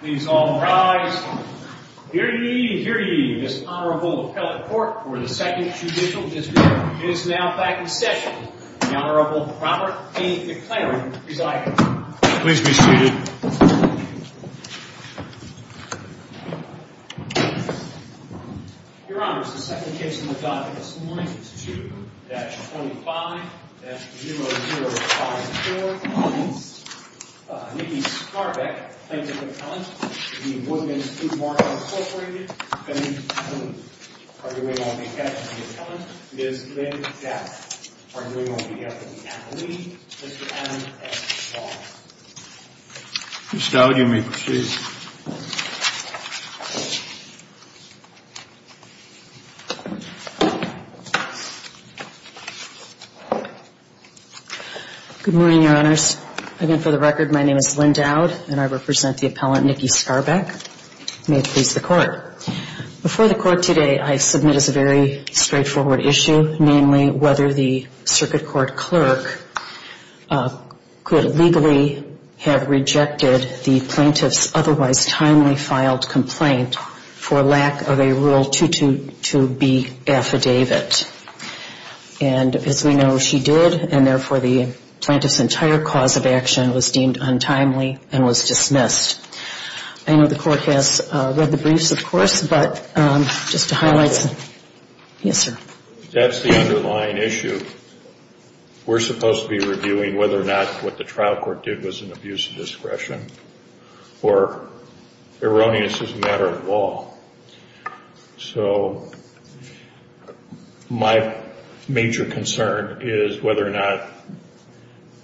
Please all rise. Hear ye, hear ye, this Honorable Appellate Court for the Second Judicial District is now back in session. The Honorable Robert A. McLaren presides. Please be seated. Your Honors, the second case in the docket this morning is 2-25-0054. Nikki Skarbek, plaintiff's appellant. The Woodman's Food Market, Inc. Are you able to get the appellant? Ms. Lynn Jack. Are you able to get the appellant? Mr. Adam S. Shaw. Ms. Skarbek, you may proceed. Good morning, Your Honors. Again, for the record, my name is Lynn Dowd, and I represent the appellant Nikki Skarbek. May it please the Court. Before the Court today, I submit as a very straightforward issue, namely, whether the circuit court clerk could legally have rejected the plaintiff's otherwise timely filed complaint for lack of a Rule 222B affidavit. And as we know, she did, and therefore the plaintiff's entire cause of action was deemed untimely and was dismissed. I know the Court has read the briefs, of course, but just to highlight... That's the underlying issue. We're supposed to be reviewing whether or not what the trial court did was an abuse of discretion, or erroneous as a matter of law. So my major concern is whether or not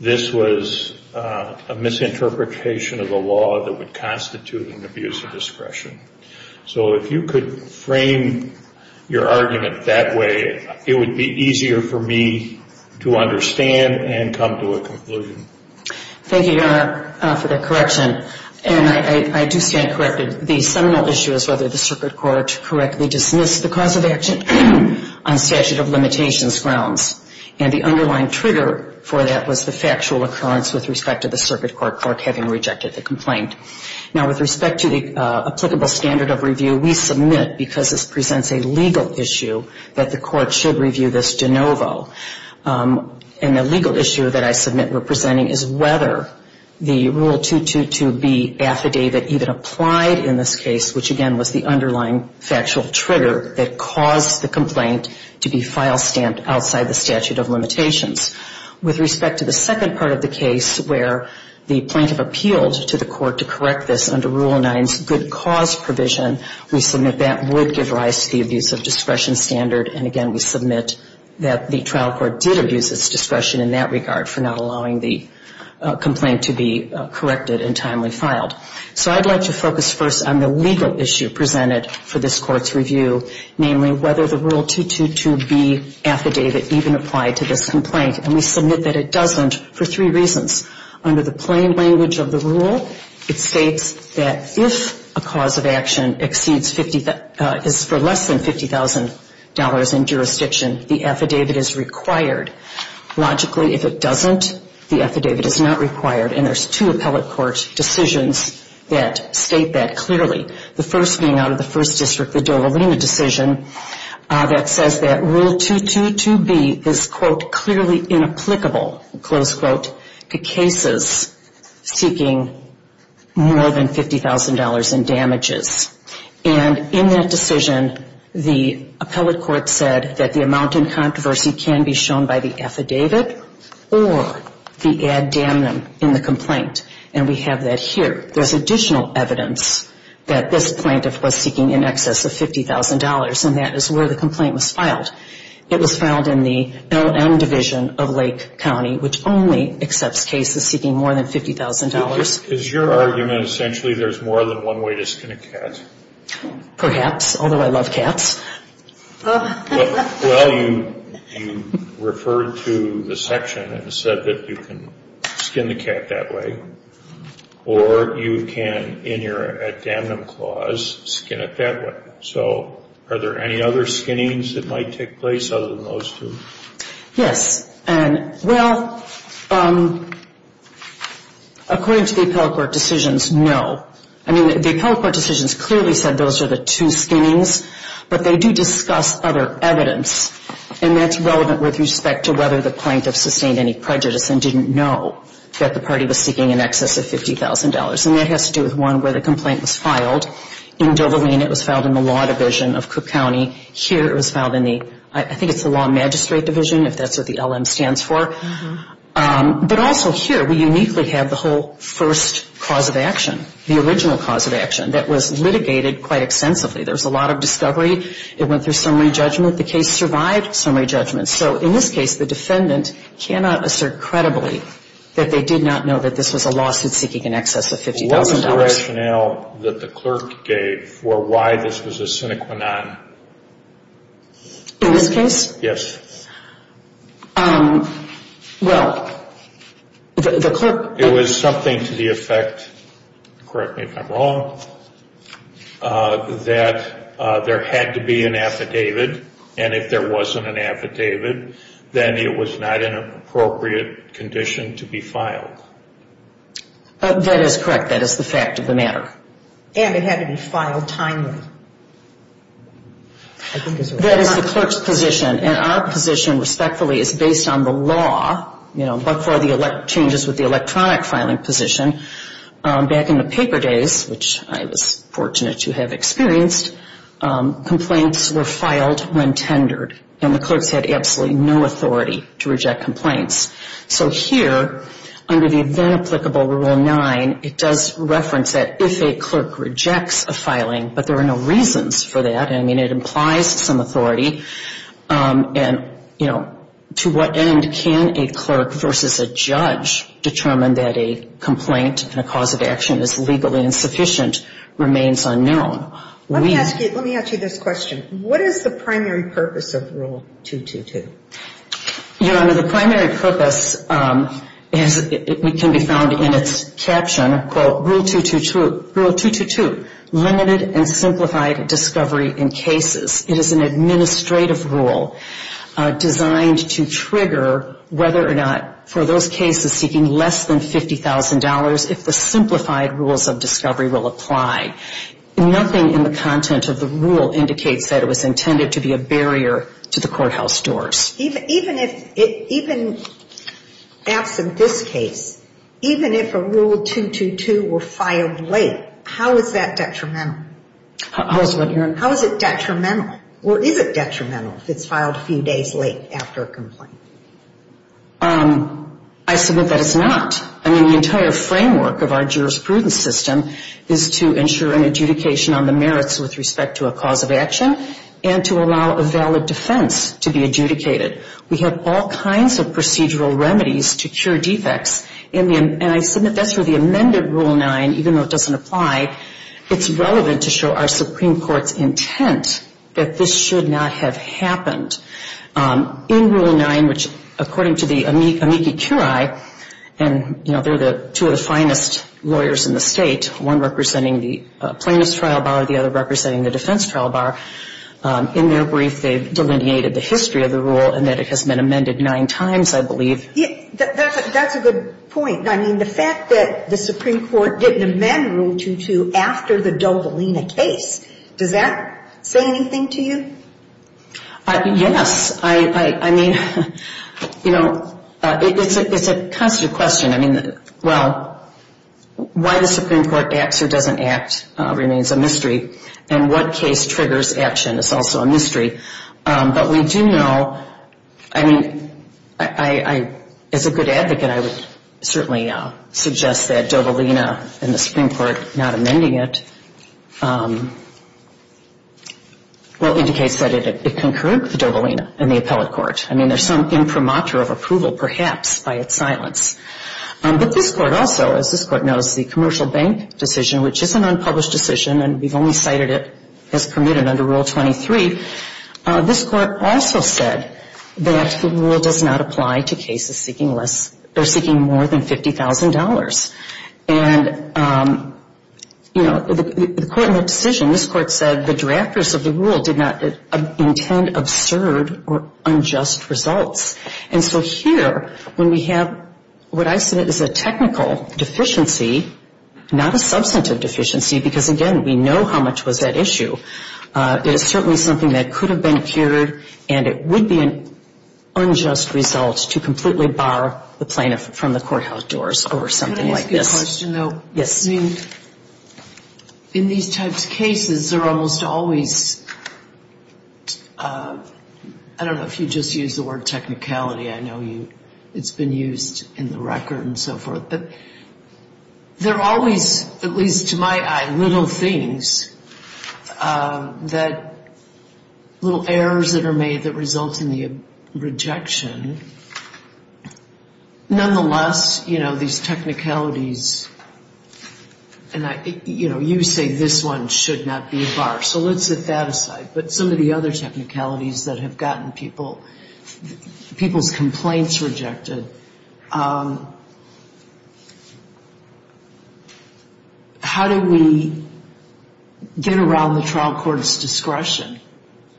this was a misinterpretation of the law that would constitute an abuse of discretion. So if you could frame your argument that way, it would be easier for me to understand and come to a conclusion. Thank you, Your Honor, for that correction. And I do stand corrected. The seminal issue is whether the circuit court correctly dismissed the cause of action on statute of limitations grounds. And the underlying trigger for that was the factual occurrence with respect to the circuit court clerk having rejected the complaint. Now, with respect to the applicable standard of review, we submit, because this presents a legal issue, that the Court should review this de novo. And the legal issue that I submit we're presenting is whether the Rule 222B affidavit even applied in this case, which, again, was the underlying factual trigger that caused the complaint to be file stamped outside the statute of limitations. With respect to the second part of the case, where the plaintiff appealed to the Court to correct this under Rule 9's good cause provision, we submit that would give rise to the abuse of discretion standard. And, again, we submit that the trial court did abuse its discretion in that regard for not allowing the complaint to be corrected and timely filed. So I'd like to focus first on the legal issue presented for this Court's review, namely whether the Rule 222B affidavit even applied to this complaint. And we submit that it doesn't for three reasons. Under the plain language of the rule, it states that if a cause of action exceeds 50, is for less than $50,000 in jurisdiction, the affidavit is required. Logically, if it doesn't, the affidavit is not required. And there's two appellate court decisions that state that clearly. The first being out of the first district, the Dovalina decision, that says that Rule 222B is, quote, clearly inapplicable, close quote, to cases seeking more than $50,000 in damages. And in that decision, the appellate court said that the amount in controversy can be shown by the affidavit or the ad damnum in the complaint. And we have that here. There's additional evidence that this plaintiff was seeking in excess of $50,000, and that is where the complaint was filed. It was filed in the LM Division of Lake County, which only accepts cases seeking more than $50,000. Is your argument essentially there's more than one way to skin a cat? Perhaps, although I love cats. Well, you referred to the section and said that you can skin the cat that way. Or you can, in your ad damnum clause, skin it that way. So are there any other skinnings that might take place other than those two? Yes. And, well, according to the appellate court decisions, no. I mean, the appellate court decisions clearly said those are the two skinnings. But they do discuss other evidence, and that's relevant with respect to whether the plaintiff sustained any prejudice and didn't know that the party was seeking in excess of $50,000. And that has to do with one where the complaint was filed. In Doverlean, it was filed in the Law Division of Cook County. Here it was filed in the, I think it's the Law Magistrate Division, if that's what the LM stands for. But also here, we uniquely have the whole first cause of action, the original cause of action, that was litigated quite extensively. There was a lot of discovery. It went through summary judgment. The case survived summary judgment. So in this case, the defendant cannot assert credibly that they did not know that this was a lawsuit seeking in excess of $50,000. What was the rationale that the clerk gave for why this was a sine qua non? In this case? Yes. Well, the clerk. It was something to the effect, correct me if I'm wrong, that there had to be an affidavit. And if there wasn't an affidavit, then it was not an appropriate condition to be filed. That is correct. That is the fact of the matter. And it had to be filed timely. That is the clerk's position. And our position, respectfully, is based on the law. But for the changes with the electronic filing position, back in the paper days, which I was fortunate to have experienced, complaints were filed when tendered. And the clerks had absolutely no authority to reject complaints. So here, under the then applicable Rule 9, it does reference that if a clerk rejects a filing, but there are no reasons for that. I mean, it implies some authority. And, you know, to what end can a clerk versus a judge determine that a complaint and a cause of action is legally insufficient remains unknown. Let me ask you this question. What is the primary purpose of Rule 222? Your Honor, the primary purpose can be found in its caption, quote, Rule 222, Limited and Simplified Discovery in Cases. It is an administrative rule designed to trigger whether or not for those cases seeking less than $50,000, if the simplified rules of discovery will apply. Nothing in the content of the rule indicates that it was intended to be a barrier to the courthouse doors. Even absent this case, even if a Rule 222 were filed late, how is that detrimental? How is what, Your Honor? How is it detrimental? Or is it detrimental if it's filed a few days late after a complaint? I submit that it's not. I mean, the entire framework of our jurisprudence system is to ensure an adjudication on the merits with respect to a cause of action and to allow a valid defense to be adjudicated. We have all kinds of procedural remedies to cure defects. And I submit that's where the amended Rule 9, even though it doesn't apply, it's relevant to show our Supreme Court's intent that this should not have happened. In Rule 9, which according to the amici curiae, and, you know, they're the two of the finest lawyers in the state, one representing the plaintiff's trial bar, the other representing the defense trial bar, in their brief they've delineated the history of the rule and that it has been amended nine times, I believe. That's a good point. I mean, the fact that the Supreme Court didn't amend Rule 222 after the Dovelina case, does that say anything to you? Yes. I mean, you know, it's a constant question. I mean, well, why the Supreme Court acts or doesn't act remains a mystery, and what case triggers action is also a mystery. But we do know, I mean, as a good advocate I would certainly suggest that Dovelina and the Supreme Court not amending it, well, indicates that it concurred with Dovelina and the appellate court. I mean, there's some imprimatur of approval perhaps by its silence. But this Court also, as this Court knows, the Commercial Bank decision, which is an unpublished decision and we've only cited it as permitted under Rule 23, this Court also said that the rule does not apply to cases seeking less or seeking more than $50,000. And, you know, the Court in that decision, this Court said the drafters of the rule did not intend absurd or unjust results. And so here when we have what I said is a technical deficiency, not a substantive deficiency, because, again, we know how much was at issue, it is certainly something that could have been cured and it would be an unjust result to completely bar the plaintiff from the courthouse doors over something like this. Can I ask you a question, though? Yes. I mean, in these types of cases, there are almost always, I don't know if you just used the word technicality, I know it's been used in the record and so forth, but there are always, at least to my eye, little things that, little errors that are made that result in the rejection. Nonetheless, you know, these technicalities, and I, you know, you say this one should not be a bar, so let's set that aside. But some of the other technicalities that have gotten people, people's complaints rejected, how do we get around the trial court's discretion?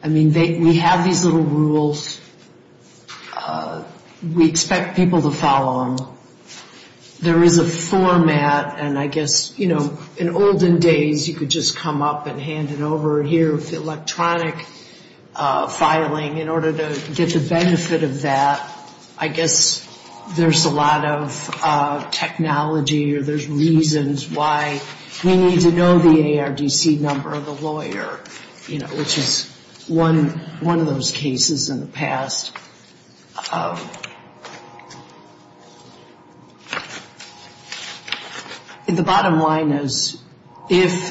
I mean, we have these little rules. We expect people to follow them. There is a format, and I guess, you know, in olden days, you could just come up and hand it over here with the electronic filing in order to get the benefit of that. I guess there's a lot of technology or there's reasons why we need to know the ARDC number of the lawyer, you know, which is one of those cases in the past. The bottom line is, if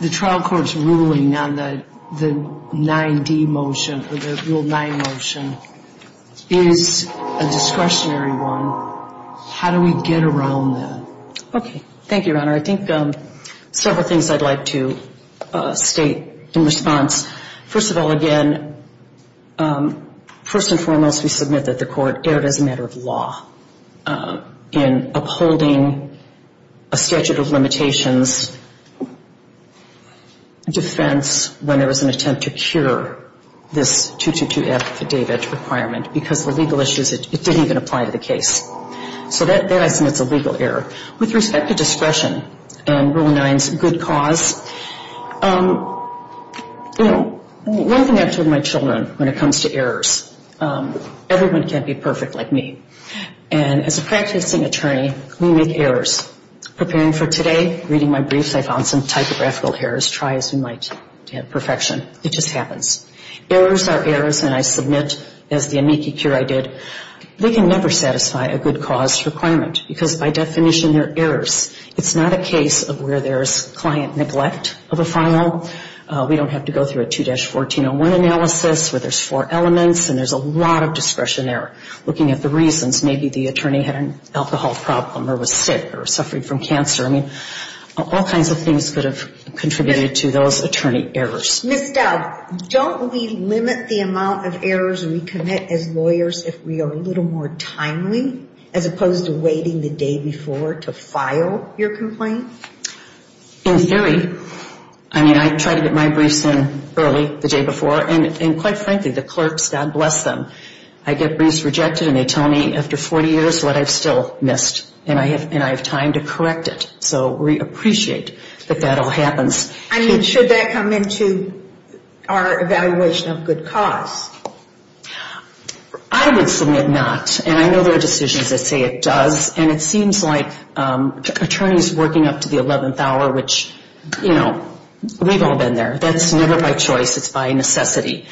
the trial court's ruling on the 9D motion or the Rule 9 motion is a discretionary one, how do we get around that? Okay. Thank you, Your Honor. Your Honor, I think several things I'd like to state in response. First of all, again, first and foremost, we submit that the court erred as a matter of law in upholding a statute of limitations defense when there was an attempt to cure this 222F affidavit requirement because the legal issues, it didn't even apply to the case. So that I submit is a legal error. With respect to discretion and Rule 9's good cause, you know, one thing I tell my children when it comes to errors, everyone can't be perfect like me. And as a practicing attorney, we make errors. Preparing for today, reading my briefs, I found some typographical errors. Try as you might to have perfection. It just happens. Errors are errors, and I submit, as the amici cure I did, they can never satisfy a good cause requirement because by definition they're errors. It's not a case of where there's client neglect of a file. We don't have to go through a 2-1401 analysis where there's four elements and there's a lot of discretion there looking at the reasons. Maybe the attorney had an alcohol problem or was sick or suffering from cancer. I mean, all kinds of things could have contributed to those attorney errors. Ms. Dowd, don't we limit the amount of errors we commit as lawyers if we are a little more timely as opposed to waiting the day before to file your complaint? In theory. I mean, I try to get my briefs in early the day before, and quite frankly, the clerks, God bless them, I get briefs rejected and they tell me after 40 years what I've still missed, and I have time to correct it. So we appreciate that that all happens. I mean, should that come into our evaluation of good cause? I would submit not, and I know there are decisions that say it does, and it seems like attorneys working up to the 11th hour, which, you know, we've all been there, that's never by choice, it's by necessity.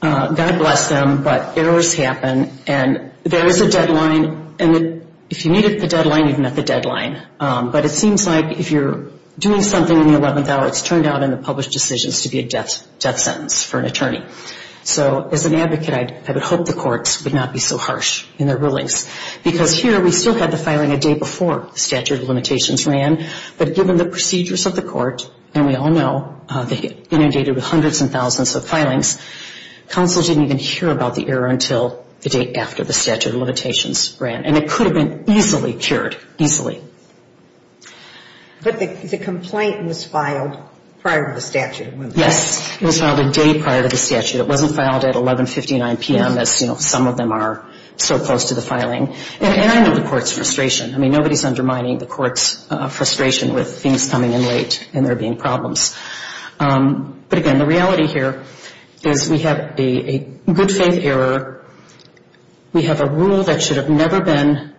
God bless them, but errors happen, and there is a deadline, and if you meet the deadline, you've met the deadline. But it seems like if you're doing something in the 11th hour, it's turned out in the published decisions to be a death sentence for an attorney. So as an advocate, I would hope the courts would not be so harsh in their rulings, because here we still had the filing a day before the statute of limitations ran, but given the procedures of the court, and we all know they inundated with hundreds and thousands of filings, counsel didn't even hear about the error until the day after the statute of limitations ran, and it could have been easily cured, easily. But the complaint was filed prior to the statute of limitations. Yes, it was filed a day prior to the statute. It wasn't filed at 11.59 p.m., as some of them are so close to the filing. And I know the court's frustration. I mean, nobody's undermining the court's frustration with things coming in late and there being problems. But again, the reality here is we have a good faith error. We have a rule that should have never been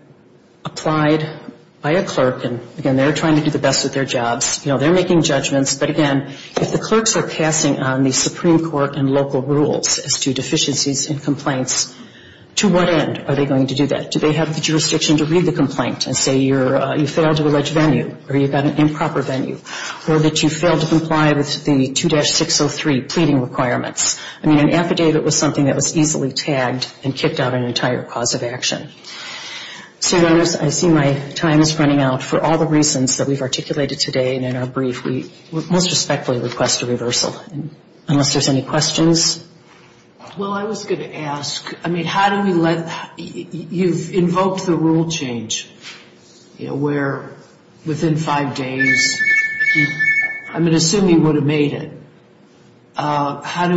applied by a clerk, and again, they're trying to do the best of their jobs. You know, they're making judgments, but again, if the clerks are passing on the Supreme Court and local rules as to deficiencies in complaints, to what end are they going to do that? Do they have the jurisdiction to read the complaint and say you failed to allege venue or you've got an improper venue or that you failed to comply with the 2-603 pleading requirements? I mean, an affidavit was something that was easily tagged and kicked out an entire cause of action. So I see my time is running out. For all the reasons that we've articulated today and in our brief, we would most respectfully request a reversal unless there's any questions. Well, I was going to ask, I mean, how do we let you've invoked the rule change, you know, where within five days I'm going to assume you would have made it. How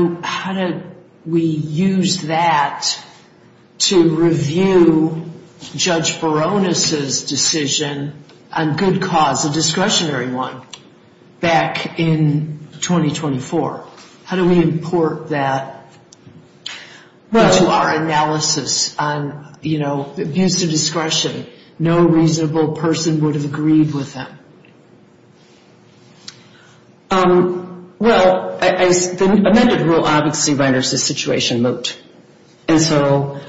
do we use that to review Judge Barones' decision on good cause, a discretionary one, back in 2024? How do we import that into our analysis on, you know, abuse of discretion? No reasonable person would have agreed with him. Well, the amended rule obviously renders the situation moot. And so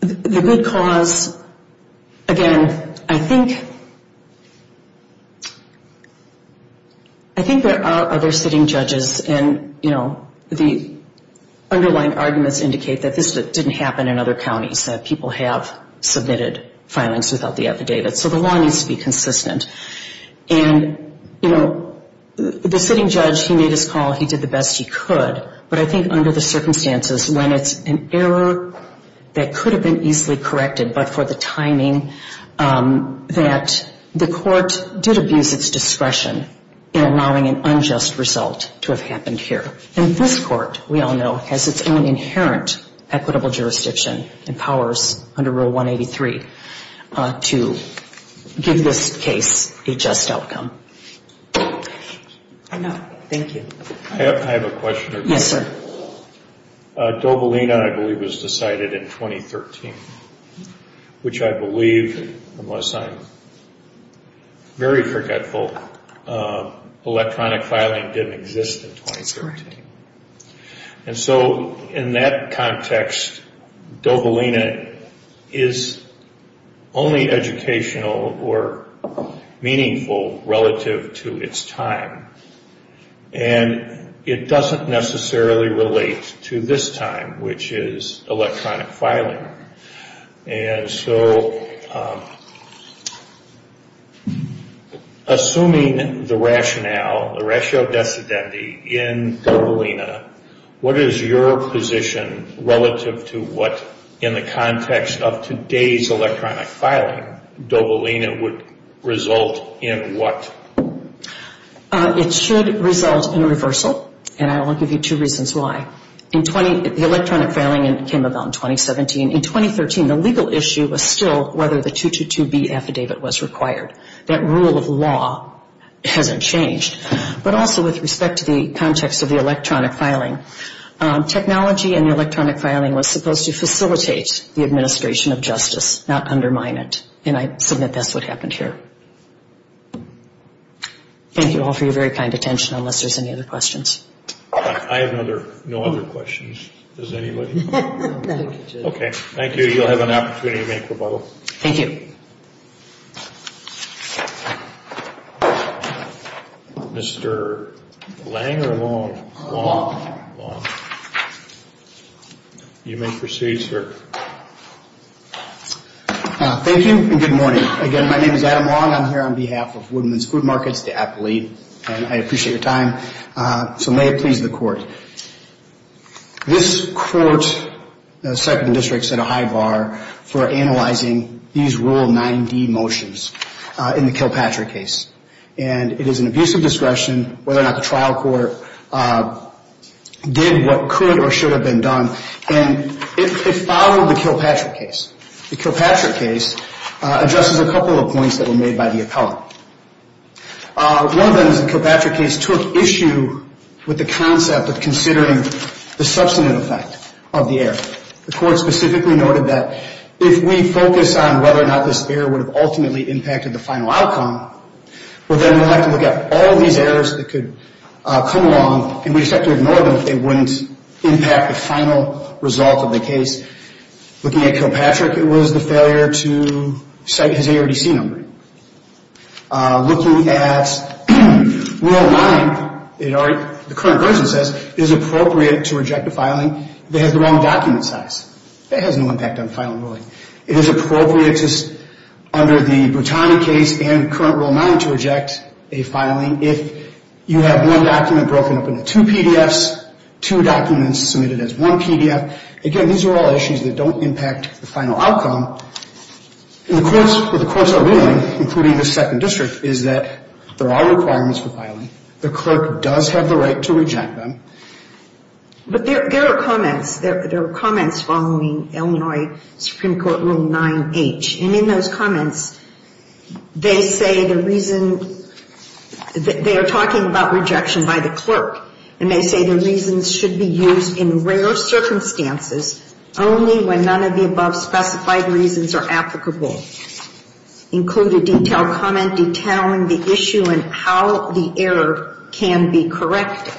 the good cause, again, I think there are other sitting judges and, you know, the underlying arguments indicate that this didn't happen in other counties, that people have submitted filings without the affidavit. So the law needs to be consistent. And, you know, the sitting judge, he made his call, he did the best he could. But I think under the circumstances when it's an error that could have been easily corrected, but for the timing that the court did abuse its discretion in allowing an unjust result to have happened here. And this court, we all know, has its own inherent equitable jurisdiction and powers under Rule 183 to give this case a just outcome. Thank you. I have a question. Yes, sir. Dobolino, I believe, was decided in 2013, which I believe, unless I'm very forgetful, electronic filing didn't exist in 2013. And so in that context, Dobolino is only educational or meaningful relative to its time. And it doesn't necessarily relate to this time, which is electronic filing. And so assuming the rationale, the ratio of dissidentity in Dobolino, what is your position relative to what, in the context of today's electronic filing, Dobolino would result in what? It should result in a reversal, and I will give you two reasons why. The electronic filing came about in 2017. In 2013, the legal issue was still whether the 222B affidavit was required. That rule of law hasn't changed. But also with respect to the context of the electronic filing, technology in the electronic filing was supposed to facilitate the administration of justice, not undermine it. And I submit that's what happened here. Thank you all for your very kind attention, unless there's any other questions. I have no other questions. Does anybody? No. Okay. Thank you. You'll have an opportunity to make rebuttal. Thank you. Mr. Lang or Long? Long. You may proceed, sir. Thank you, and good morning. Again, my name is Adam Long. I'm here on behalf of Woodman's Food Markets, the appellate, and I appreciate your time. So may it please the court. This court, the second district, set a high bar for analyzing these Rule 9D motions in the Kilpatrick case. And it is an abuse of discretion whether or not the trial court did what could or should have been done, and it followed the Kilpatrick case. The Kilpatrick case addresses a couple of points that were made by the appellate. One of them is the Kilpatrick case took issue with the concept of considering the substantive effect of the error. The court specifically noted that if we focus on whether or not this error would have ultimately impacted the final outcome, well then we'd have to look at all of these errors that could come along, and we'd just have to ignore them if they wouldn't impact the final result of the case. Looking at Kilpatrick, it was the failure to cite his ARDC number. Looking at Rule 9, the current version says it is appropriate to reject a filing that has the wrong document size. That has no impact on filing ruling. It is appropriate under the Brutani case and current Rule 9 to reject a filing if you have one document broken up into two PDFs, two documents submitted as one PDF. Again, these are all issues that don't impact the final outcome. What the courts are ruling, including the Second District, is that there are requirements for filing. The clerk does have the right to reject them. But there are comments. There are comments following Illinois Supreme Court Rule 9H, and in those comments, they say the reason they are talking about rejection by the clerk, and they say the reasons should be used in rare circumstances, only when none of the above specified reasons are applicable. Include a detailed comment detailing the issue and how the error can be corrected.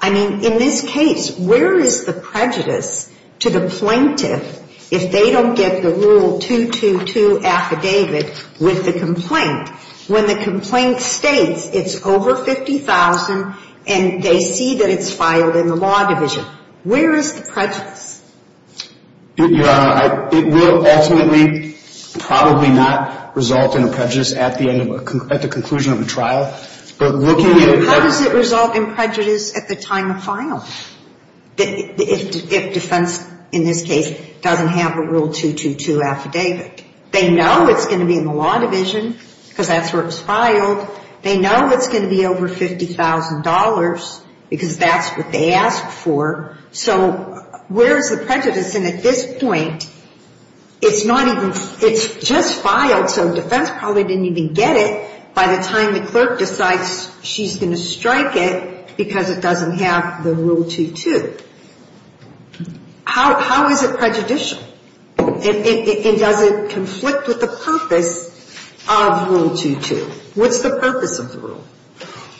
I mean, in this case, where is the prejudice to the plaintiff if they don't get the Rule 222 affidavit with the complaint when the complaint states it's over 50,000 and they see that it's filed in the law division? Where is the prejudice? Your Honor, it will ultimately probably not result in a prejudice at the end of a ‑‑ at the conclusion of a trial. But looking at ‑‑ And how does it result in prejudice at the time of filing if defense in this case doesn't have a Rule 222 affidavit? They know it's going to be in the law division because that's where it was filed. They know it's going to be over $50,000 because that's what they asked for. So where is the prejudice? And at this point, it's not even ‑‑ it's just filed, so defense probably didn't even get it by the time the clerk decides she's going to strike it because it doesn't have the Rule 222. How is it prejudicial? And does it conflict with the purpose of Rule 222? What's the purpose of the Rule?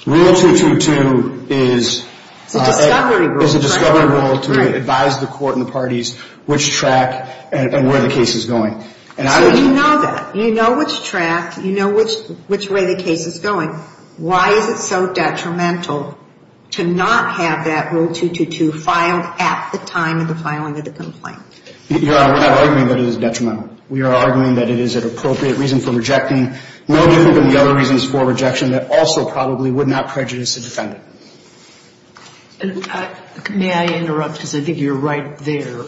Rule 222 is ‑‑ It's a discovery rule. It's a discovery rule to advise the court and the parties which track and where the case is going. So you know that. You know which track, you know which way the case is going. Why is it so detrimental to not have that Rule 222 filed at the time of the filing of the complaint? Your Honor, I'm arguing that it is detrimental. We are arguing that it is an appropriate reason for rejecting, no different than the other reasons for rejection that also probably would not prejudice a defendant. May I interrupt because I think you're right there?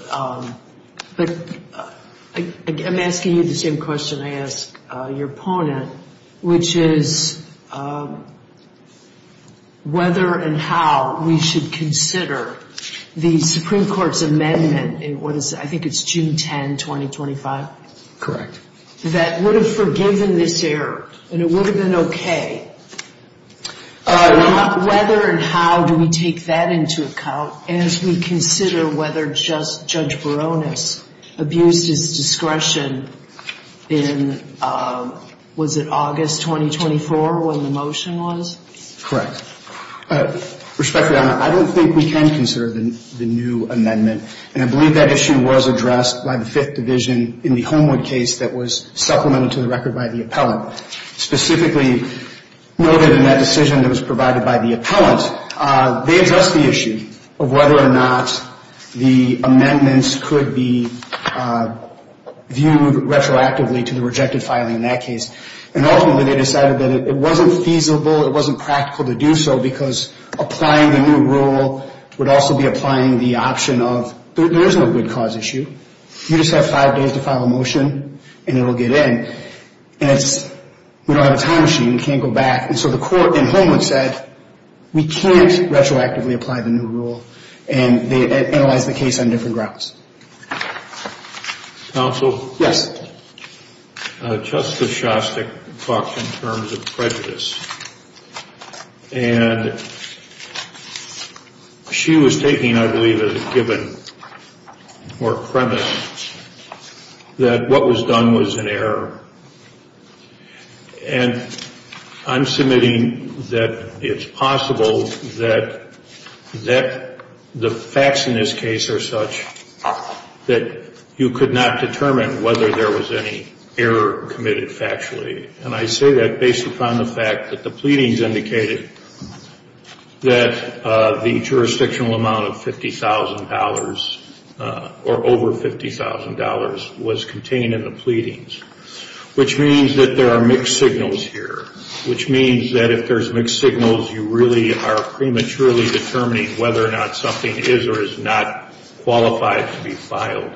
But I'm asking you the same question I ask your opponent, which is whether and how we should consider the Supreme Court's amendment. I think it's June 10, 2025. Correct. That would have forgiven this error and it would have been okay. Whether and how do we take that into account as we consider whether Judge Baronis abused his discretion in, was it August 2024 when the motion was? Correct. Respectfully, Your Honor, I don't think we can consider the new amendment. And I believe that issue was addressed by the Fifth Division in the Homewood case that was supplemented to the record by the appellant. Specifically noted in that decision that was provided by the appellant, they addressed the issue of whether or not the amendments could be viewed retroactively to the rejected filing in that case. And ultimately they decided that it wasn't feasible, it wasn't practical to do so, because applying the new rule would also be applying the option of, there is no good cause issue. You just have five days to file a motion and it will get in. And it's, we don't have a time machine, we can't go back. And so the court in Homewood said, we can't retroactively apply the new rule. And they analyzed the case on different grounds. Counsel? Yes. Justice Shostak talked in terms of prejudice. And she was taking, I believe, as a given or premise that what was done was an error. And I'm submitting that it's possible that the facts in this case are such that you could not determine whether there was any error committed factually. And I say that based upon the fact that the pleadings indicated that the jurisdictional amount of $50,000 or over $50,000 was contained in the pleadings. Which means that there are mixed signals here. Which means that if there's mixed signals, you really are prematurely determining whether or not something is or is not qualified to be filed.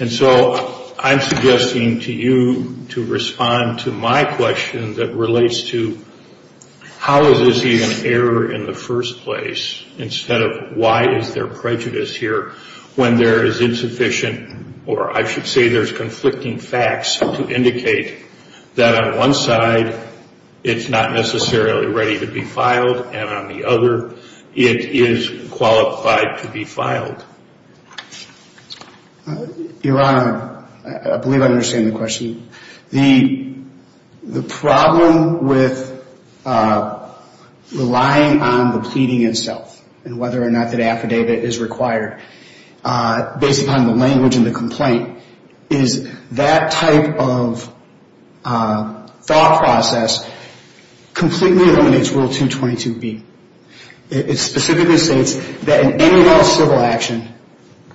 And so I'm suggesting to you to respond to my question that relates to, how is this even an error in the first place? Instead of why is there prejudice here when there is insufficient or I should say there's conflicting facts to indicate that on one side, it's not necessarily ready to be filed. And on the other, it is qualified to be filed. Your Honor, I believe I understand the question. The problem with relying on the pleading itself and whether or not that affidavit is required, based upon the language in the complaint, is that type of thought process completely eliminates Rule 222B. It specifically states that in any and all civil action,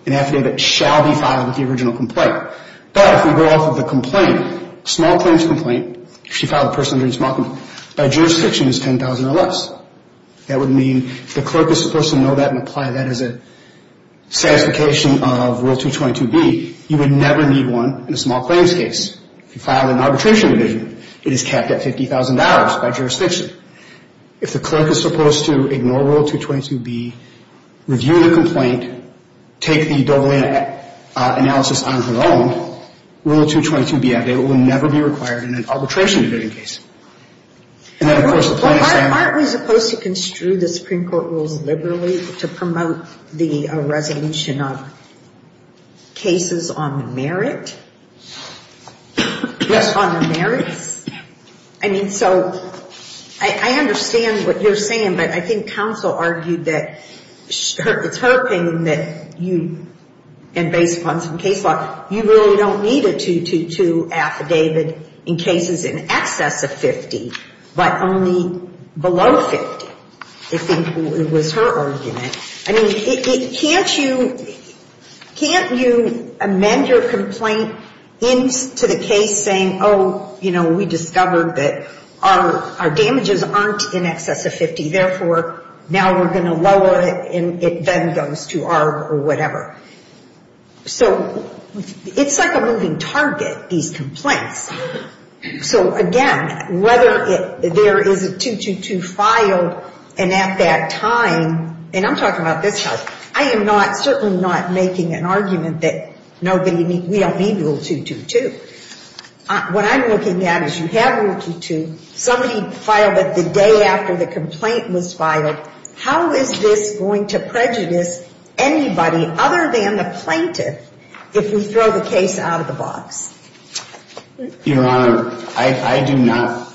an affidavit shall be filed with the original complaint. But if we go off of the complaint, small claims complaint, if you file a personal injury small complaint, by jurisdiction it's $10,000 or less. That would mean if the clerk is supposed to know that and apply that as a satisfication of Rule 222B, you would never need one in a small claims case. If you file an arbitration division, it is capped at $50,000 by jurisdiction. If the clerk is supposed to ignore Rule 222B, review the complaint, take the Dovalina analysis on her own, Rule 222B affidavit will never be required in an arbitration division case. Aren't we supposed to construe the Supreme Court rules liberally to promote the resolution of cases on merit? Just on the merits? I mean, so I understand what you're saying, but I think counsel argued that it's her opinion that you, and based upon some case law, you really don't need a 222 affidavit in cases in excess of $50,000, but only below $50,000, I think was her argument. I mean, can't you amend your complaint into the case saying, oh, you know, we discovered that our damages aren't in excess of $50,000, therefore now we're going to lower it, and it then goes to ARB or whatever. So it's like a moving target, these complaints. So again, whether there is a 222 filed, and at that time, and I'm talking about this house, I am not, certainly not making an argument that we don't need Rule 222. What I'm looking at is you have Rule 222, somebody filed it the day after the complaint was filed, how is this going to prejudice anybody other than the plaintiff if we throw the case out of the box? Your Honor, I do not,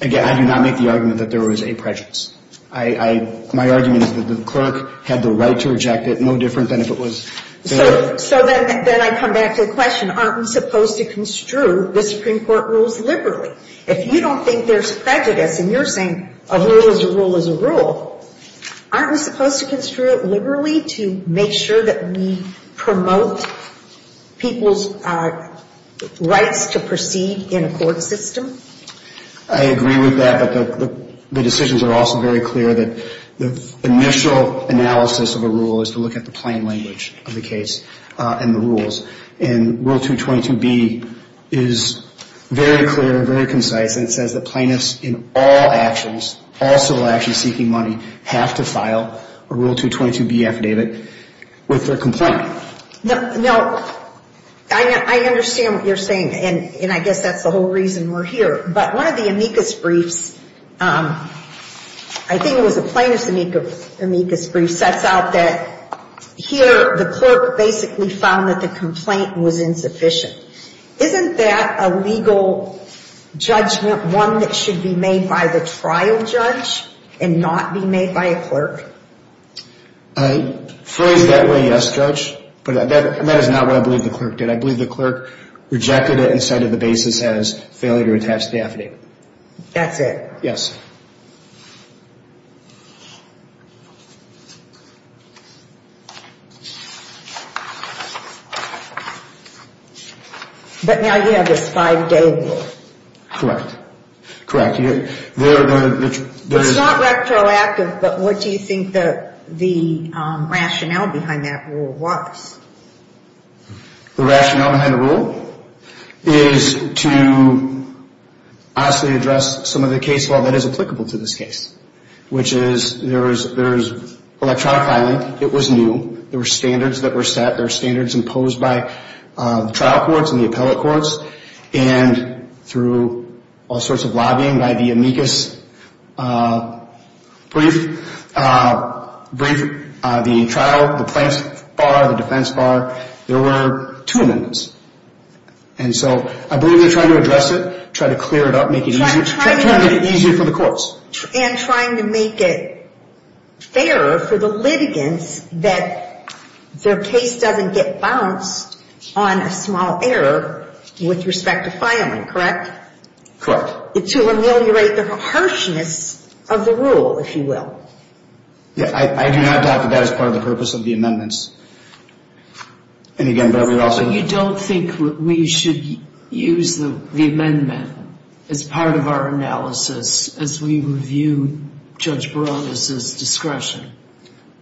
again, I do not make the argument that there was a prejudice. My argument is that the clerk had the right to reject it, no different than if it was. So then I come back to the question, aren't we supposed to construe the Supreme Court rules liberally? If you don't think there's prejudice, and you're saying a rule is a rule is a rule, aren't we supposed to construe it liberally to make sure that we promote people's rights to proceed? I agree with that, but the decisions are also very clear that the initial analysis of a rule is to look at the plain language of the case and the rules. And Rule 222B is very clear, very concise, and it says that plaintiffs in all actions, all civil actions seeking money, have to file a Rule 222B affidavit with their complaint. Now, I understand what you're saying, and I guess that's the whole reason we're here. But one of the amicus briefs, I think it was a plaintiff's amicus brief, sets out that here the clerk basically found that the complaint was insufficient. Isn't that a legal judgment, one that should be made by the trial judge and not be made by a clerk? Phrased that way, yes, Judge, but that is not what I believe the clerk did. I believe the clerk rejected it and said that the basis has failure to attach the affidavit. That's it? Yes. But now you have this five-day rule. Correct, correct. It's not retroactive, but what do you think the rationale behind that rule was? The rationale behind the rule is to honestly address some of the case law that is applicable to this case, which is there is electronic filing. It was new. There were standards that were set. There were standards that were set through all sorts of lobbying by the amicus brief, the trial, the plaintiff's bar, the defense bar. There were two amendments. And so I believe they're trying to address it, trying to clear it up, making it easier for the courts. And trying to make it fairer for the litigants that their case doesn't get bounced on a small error with respect to filing, correct? Correct. To ameliorate the harshness of the rule, if you will. I do not talk about it as part of the purpose of the amendments. But you don't think we should use the amendment as part of our analysis as we review Judge Barones' discretion?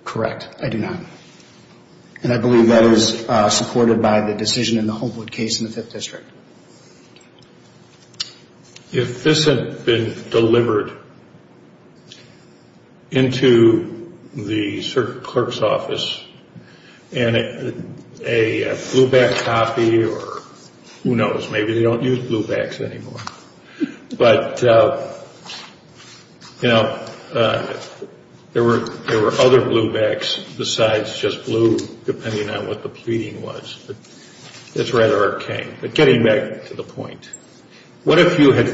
Correct, I do not. And I believe that is supported by the decision in the Homewood case in the Fifth District. If this had been delivered into the clerk's office and a blueback copy or who knows, maybe they don't use bluebacks anymore. But, you know, there were other bluebacks besides just blue, depending on what the pleading was. It's rather arcane. But getting back to the point, what if you had,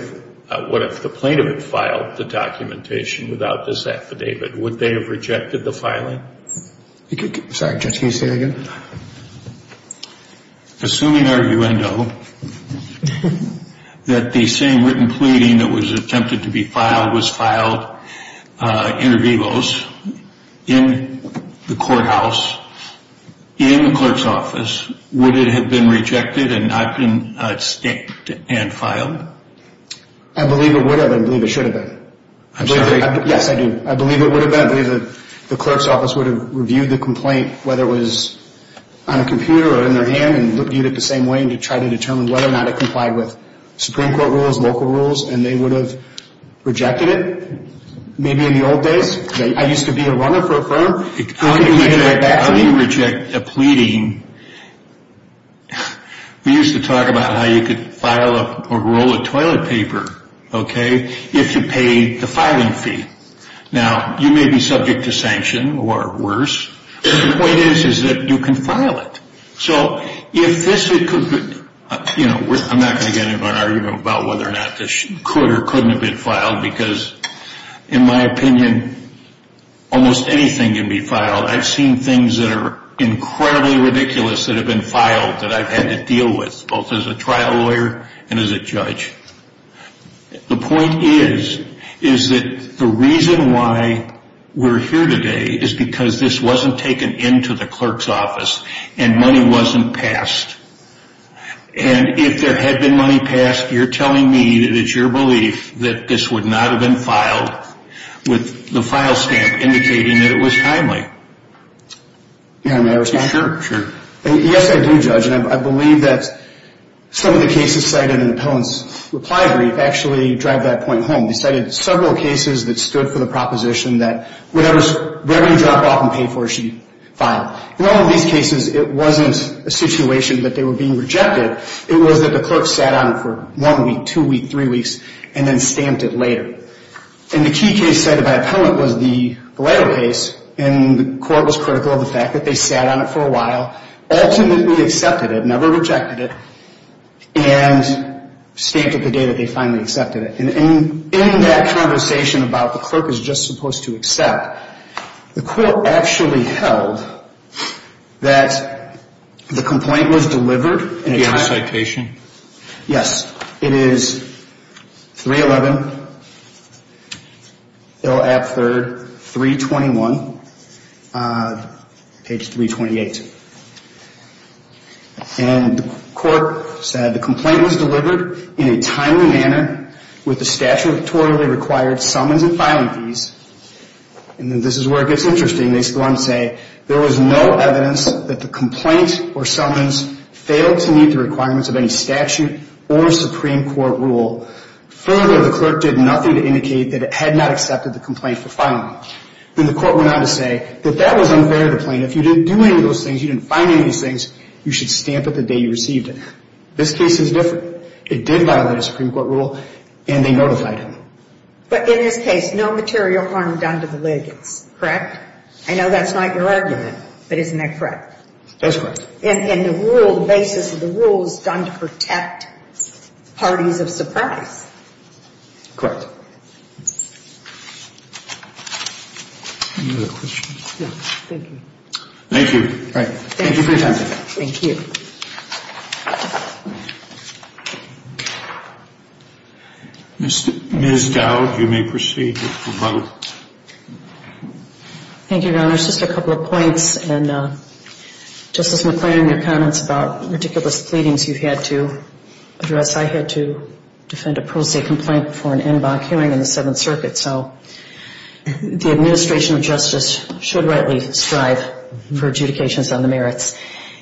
what if the plaintiff had filed the documentation without this affidavit? Would they have rejected the filing? Sorry, Judge, can you say that again? Assuming arguendo, that the same written pleading that was attempted to be filed was filed inter vivos in the courthouse, in the clerk's office, would it have been rejected and not been staked and filed? I believe it would have and I believe it should have been. I'm sorry? Yes, I do. I believe it would have been. I believe the clerk's office would have reviewed the complaint, whether it was on a computer or in their hand, and reviewed it the same way to try to determine whether or not it complied with Supreme Court rules, local rules, and they would have rejected it. Maybe in the old days? I used to be a runner for a firm. How do you reject a pleading? We used to talk about how you could file a roll of toilet paper, okay, if you paid the filing fee. Now, you may be subject to sanction or worse, but the point is that you can file it. I'm not going to get into an argument about whether or not this could or couldn't have been filed because, in my opinion, almost anything can be filed. I've seen things that are incredibly ridiculous that have been filed that I've had to deal with, both as a trial lawyer and as a judge. The point is that the reason why we're here today is because this wasn't taken into the clerk's office and money wasn't taken into the clerk's office. Money wasn't passed. And if there had been money passed, you're telling me that it's your belief that this would not have been filed with the file stamp indicating that it was timely. Yes, I do, Judge, and I believe that some of the cases cited in Appellant's reply brief actually drive that point home. They cited several cases that stood for the proposition that whatever you drop off and pay for should be filed. Now, in all of these cases, it wasn't a situation that they were being rejected. It was that the clerk sat on it for one week, two weeks, three weeks, and then stamped it later. And the key case cited by Appellant was the lighter case, and the court was critical of the fact that they sat on it for a while, ultimately accepted it, never rejected it, and stamped it the day that they finally accepted it. And in that conversation about the clerk is just supposed to accept, the court actually held that the complaint was delivered in a timely manner. Do you have a citation? Yes, it is 311 L. App III, 321, page 328. And the court said the complaint was delivered in a timely manner with the statutorily required summons and filing fees. And this is where it gets interesting. They go on to say there was no evidence that the complaint or summons failed to meet the requirements of any statute or Supreme Court rule. Further, the clerk did nothing to indicate that it had not accepted the complaint for filing. Then the court went on to say that that was unfair to the plaintiff. If you didn't do any of those things, you didn't find any of these things, you should stamp it the day you received it. This case is different. It did violate a Supreme Court rule, and they notified him. But in this case, no material harm done to the litigants, correct? I know that's not your argument, but isn't that correct? That's correct. And the rule, the basis of the rule is done to protect parties of surprise. Correct. Thank you. Thank you. Ms. Dowd, you may proceed. Thank you, Your Honors. Just a couple of points, and Justice McClaren, your comments about meticulous pleadings you've had to address. I had to defend a pro se complaint for an en banc hearing in the Seventh Circuit, so the administration of justice should rightly strive for adjudications on the merits.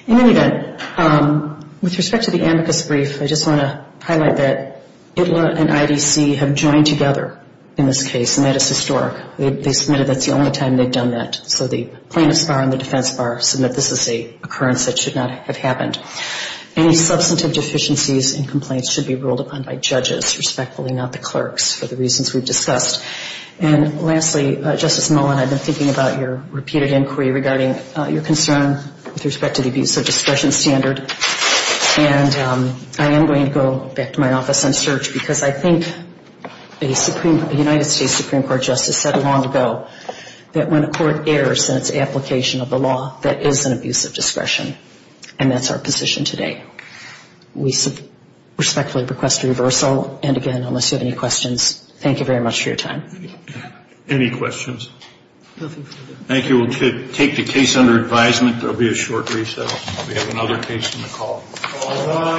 In any event, with respect to the amicus brief, I just want to highlight that ITLA and IDC have joined together in this case. They submitted that's the only time they've done that, so the plaintiff's bar and the defense bar submit this is an occurrence that should not have happened. Any substantive deficiencies in complaints should be ruled upon by judges, respectfully, not the clerks, for the reasons we've discussed. And lastly, Justice Mullen, I've been thinking about your repeated inquiry regarding your concern with respect to the abuse of discretion standard. And I am going to go back to my office and search, because I think a Supreme Court, a United States Supreme Court, is not going to do that. The Supreme Court Justice said long ago that when a court errs in its application of the law, that is an abuse of discretion. And that's our position today. We respectfully request a reversal, and again, unless you have any questions, thank you very much for your time. Any questions? Thank you. We'll take the case under advisement. There will be a short recess. We have another case on the call.